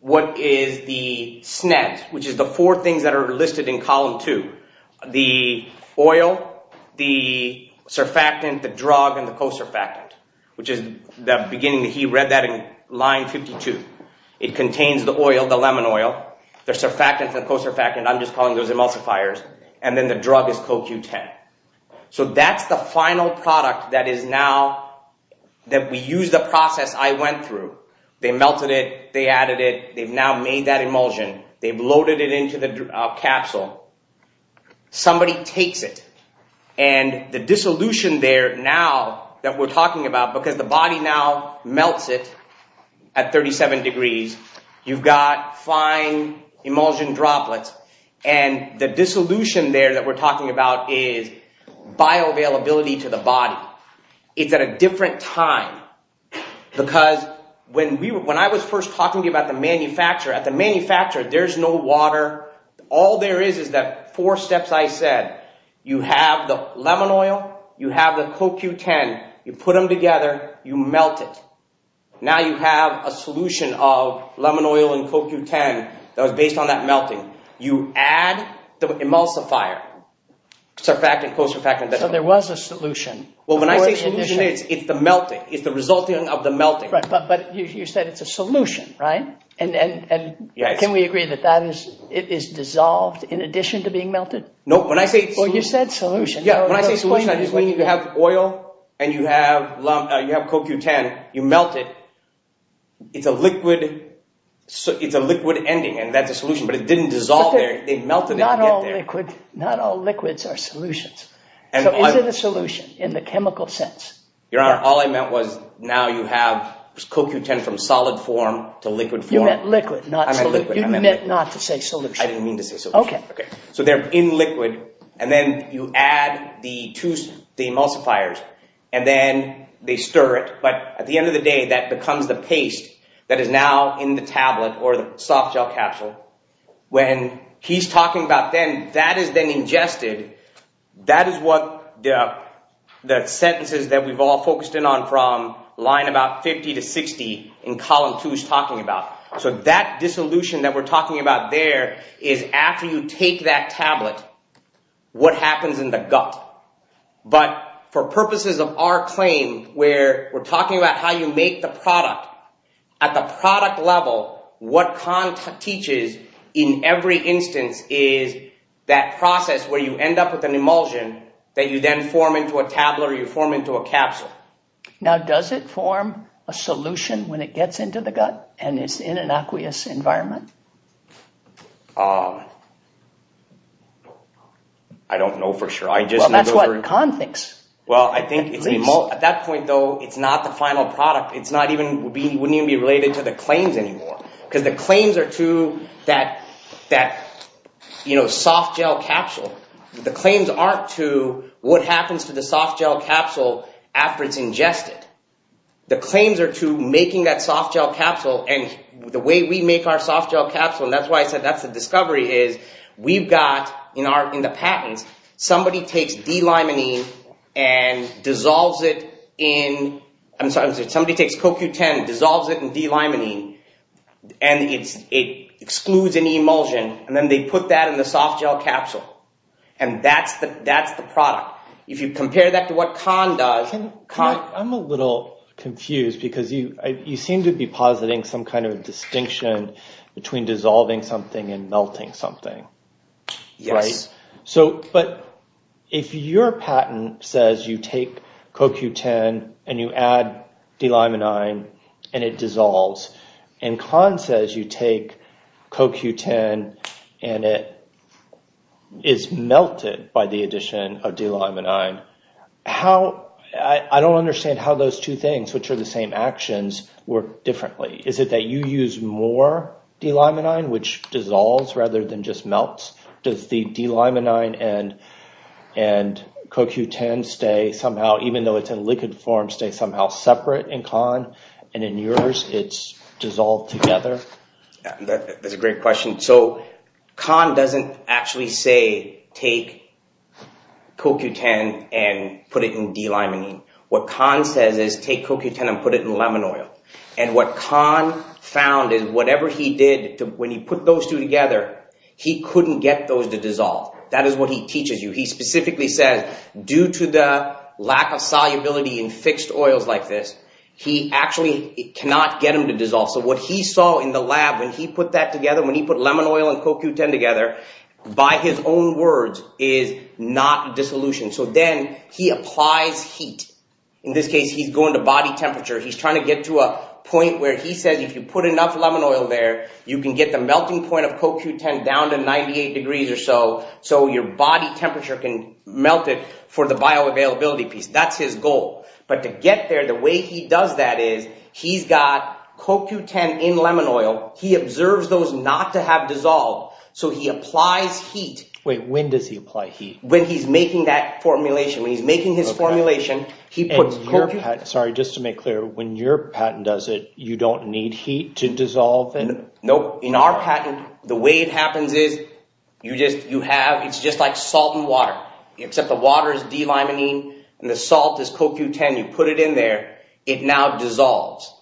what is the SNEDS, which is the four things that are listed in column two. The oil, the surfactant, the drug, and the co-surfactant, which is the beginning. He read that in line 52. It contains the oil, the lemon oil, the surfactant, the co-surfactant. I'm just calling those emulsifiers. And then the drug is cocutane. So that's the final product that is now... That we use the process I went through. They melted it. They added it. They've now made that emulsion. They've loaded it into the capsule. Somebody takes it. And the dissolution there now that we're talking about, because the body now melts it at 37 degrees, you've got fine emulsion droplets. And the dissolution there that we're talking about is bioavailability to the body. It's at a different time. Because when I was first talking to you about the manufacturer, at the manufacturer, there's no water. All there is, is that four steps I said. You have the lemon oil. You have the cocutane. You put them together. You melt it. Now you have a solution of lemon oil and cocutane that was based on that melting. You add the emulsifier. Surfactant, co-surfactant. So there was a solution. Well, when I say solution, it's the melting. It's the resulting of the melting. But you said it's a solution, right? And can we agree that that is dissolved in addition to being melted? No, when I say... Well, you said solution. Yeah, when I say solution, I just mean you have oil and you have cocutane. You melt it. It's a liquid ending, and that's a solution. But it didn't dissolve there. They melted it to get there. Not all liquids are solutions. So is it a solution in the chemical sense? Your Honor, all I meant was now you have cocutane from solid form to liquid form. You meant liquid, not solution. You meant not to say solution. I didn't mean to say solution. Okay. So they're in liquid and then you add the two emulsifiers and then they stir it. But at the end of the day, that becomes the paste that is now in the tablet or the soft gel capsule. When he's talking about then, that is then ingested. That is what the sentences that we've all focused in on from line about 50 to 60 in column two is talking about. So that dissolution that we're talking about there is after you take that tablet, what happens in the gut? But for purposes of our claim where we're talking about how you make the product, at the product level, what Khan teaches in every instance is that process where you end up with an emulsion that you then form into a tablet or you form into a capsule. Now, does it form a solution when it gets into the gut and it's in an aqueous environment? I don't know for sure. Well, that's what Khan thinks. Well, I think at that point though, it's not the final product. It wouldn't even be related to the claims anymore because the claims are to that soft gel capsule. The claims aren't to what happens to the soft gel capsule after it's ingested. The claims are to making that soft gel capsule and the way we make our soft gel capsule, and that's why I said that's the discovery is we've got in the patents, somebody takes D-limonene and dissolves it in, I'm sorry, somebody takes CoQ10, dissolves it in D-limonene and it excludes any emulsion and then they put that in the soft gel capsule and that's the product. If you compare that to what Khan does... I'm a little confused because you seem to be positing some kind of distinction between dissolving something and melting something, right? But if your patent says you take CoQ10 and you add D-limonene and it dissolves and Khan says you take CoQ10 and it is melted by the addition of D-limonene, I don't understand how those two things, which are the same actions, work differently. Is it that you use more D-limonene, which dissolves rather than just melts? Does the D-limonene and CoQ10 stay somehow, even though it's in liquid form, stay somehow separate in Khan and in yours it's dissolved together? That's a great question. Khan doesn't actually say take CoQ10 and put it in D-limonene. What Khan says is take CoQ10 and put it in lemon oil and what Khan found is whatever he did when he put those two together, he couldn't get those to dissolve. That is what he teaches you. He specifically says due to the lack of solubility in fixed oils like this, he actually cannot get them to dissolve. So what he saw in the lab when he put that together, when he put lemon oil and CoQ10 together, by his own words is not dissolution. So then he applies heat. In this case, he's going to body temperature. He's trying to get to a point where he says, if you put enough lemon oil there, you can get the melting point of CoQ10 down to 98 degrees or so. So your body temperature can melt it for the bioavailability piece. That's his goal. But to get there, the way he does that is he's got CoQ10 in lemon oil. He observes those not to have dissolved. So he applies heat. Wait, when does he apply heat? When he's making that formulation. When he's making his formulation, he puts CoQ10. Sorry, just to make clear, when your patent does it, you don't need heat to dissolve it? Nope. In our patent, the way it happens is you just, you have, it's just like salt and water, except the water is D-limonene and the salt is CoQ10. You put it in there. It now dissolves.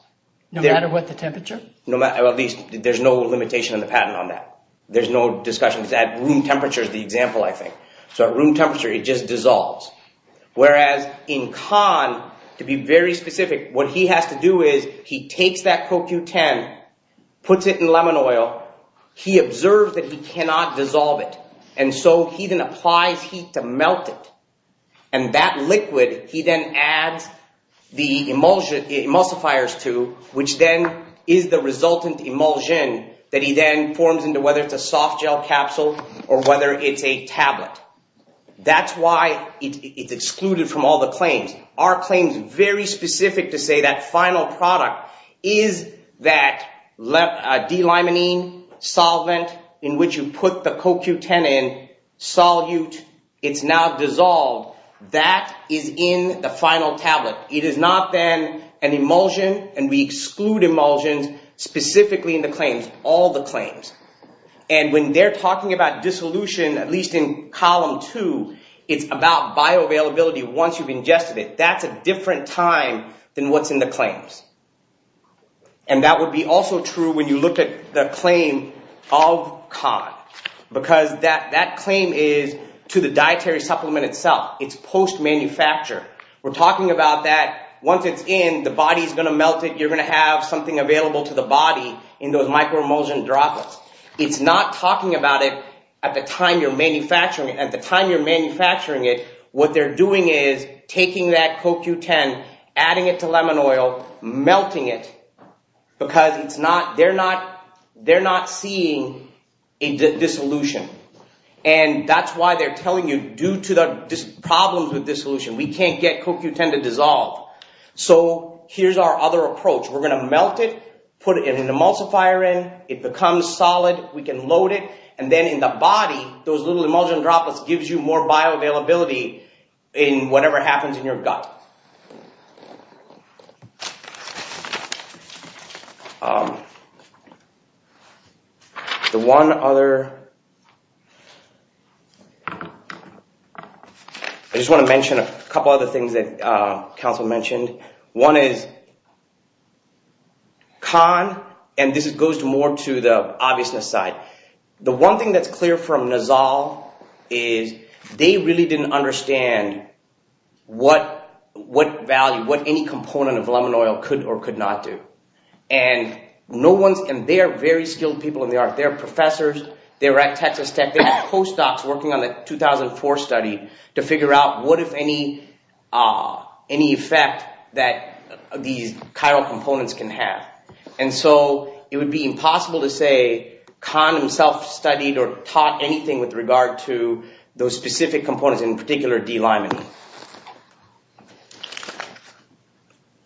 No matter what the temperature? No matter, at least, there's no limitation in the patent on that. There's no discussion. At room temperature is the example, I think. So at room temperature, it just dissolves. Whereas in Kahn, to be very specific, what he has to do is he takes that CoQ10, puts it in lemon oil. He observes that he cannot dissolve it. And so he then applies heat to melt it. And that liquid, he then adds the emulsifiers to, which then is the resultant emulsion that he then forms into, whether it's a soft gel capsule or whether it's a tablet. That's why it's excluded from all the claims. Our claim is very specific to say that final product is that D-limonene solvent in which you put the CoQ10 in, solute, it's now dissolved. That is in the final tablet. It is not then an emulsion. And we exclude emulsions specifically in the claims, all the claims. And when they're talking about dissolution, at least in column two, it's about bioavailability once you've ingested it. That's a different time than what's in the claims. And that would be also true when you look at the claim of Kahn. Because that claim is to the dietary supplement itself. It's post-manufacture. We're talking about that once it's in, the body is going to melt it. You're going to have something available to the body in those micro emulsion droplets. It's not talking about it at the time you're manufacturing it. At the time you're manufacturing it, what they're doing is taking that CoQ10, adding it to lemon oil, melting it because it's not, they're not, they're not seeing a dissolution. And that's why they're telling you due to the problems with dissolution, we can't get CoQ10 to dissolve. So here's our other approach. We're going to melt it, put it in an emulsifier, and it becomes solid. We can load it. And then in the body, those little emulsion droplets gives you more bioavailability in whatever happens in your gut. The one other, I just want to mention a couple other things that Council mentioned. One is con, and this goes more to the obviousness side. The one thing that's clear from Nizal is they really didn't understand what value, what any component of lemon oil could or could not do. And no one's, and they're very skilled people in the art. They're professors. They're at Texas Tech. They're postdocs working on the 2004 study to figure out what if any, any effect that these chiral components can have. And so it would be impossible to say con himself studied or taught anything with regard to those specific components, in particular D-limon.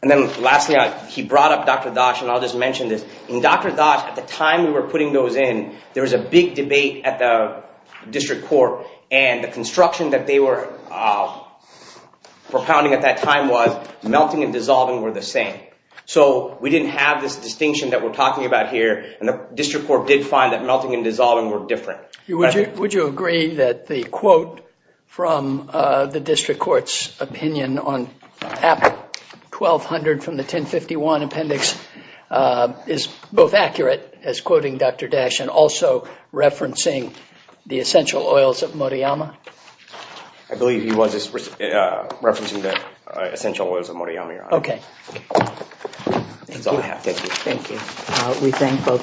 And then lastly, he brought up Dr. Dosh, and I'll just mention this. In Dr. Dosh, at the time we were putting those in, there was a big debate at the district court and the construction that they were propounding at that time was melting and dissolving were the same. So we didn't have this distinction that we're talking about here. And the district court did find that melting and dissolving were different. Would you agree that the quote from the district court's opinion on app 1200 from the 1051 appendix is both accurate as quoting Dr. Dosh and also referencing the essential oils of Murayama? I believe he was referencing the essential oils of Murayama, Your Honor. Okay. That's all I have. Thank you. Thank you. We thank both.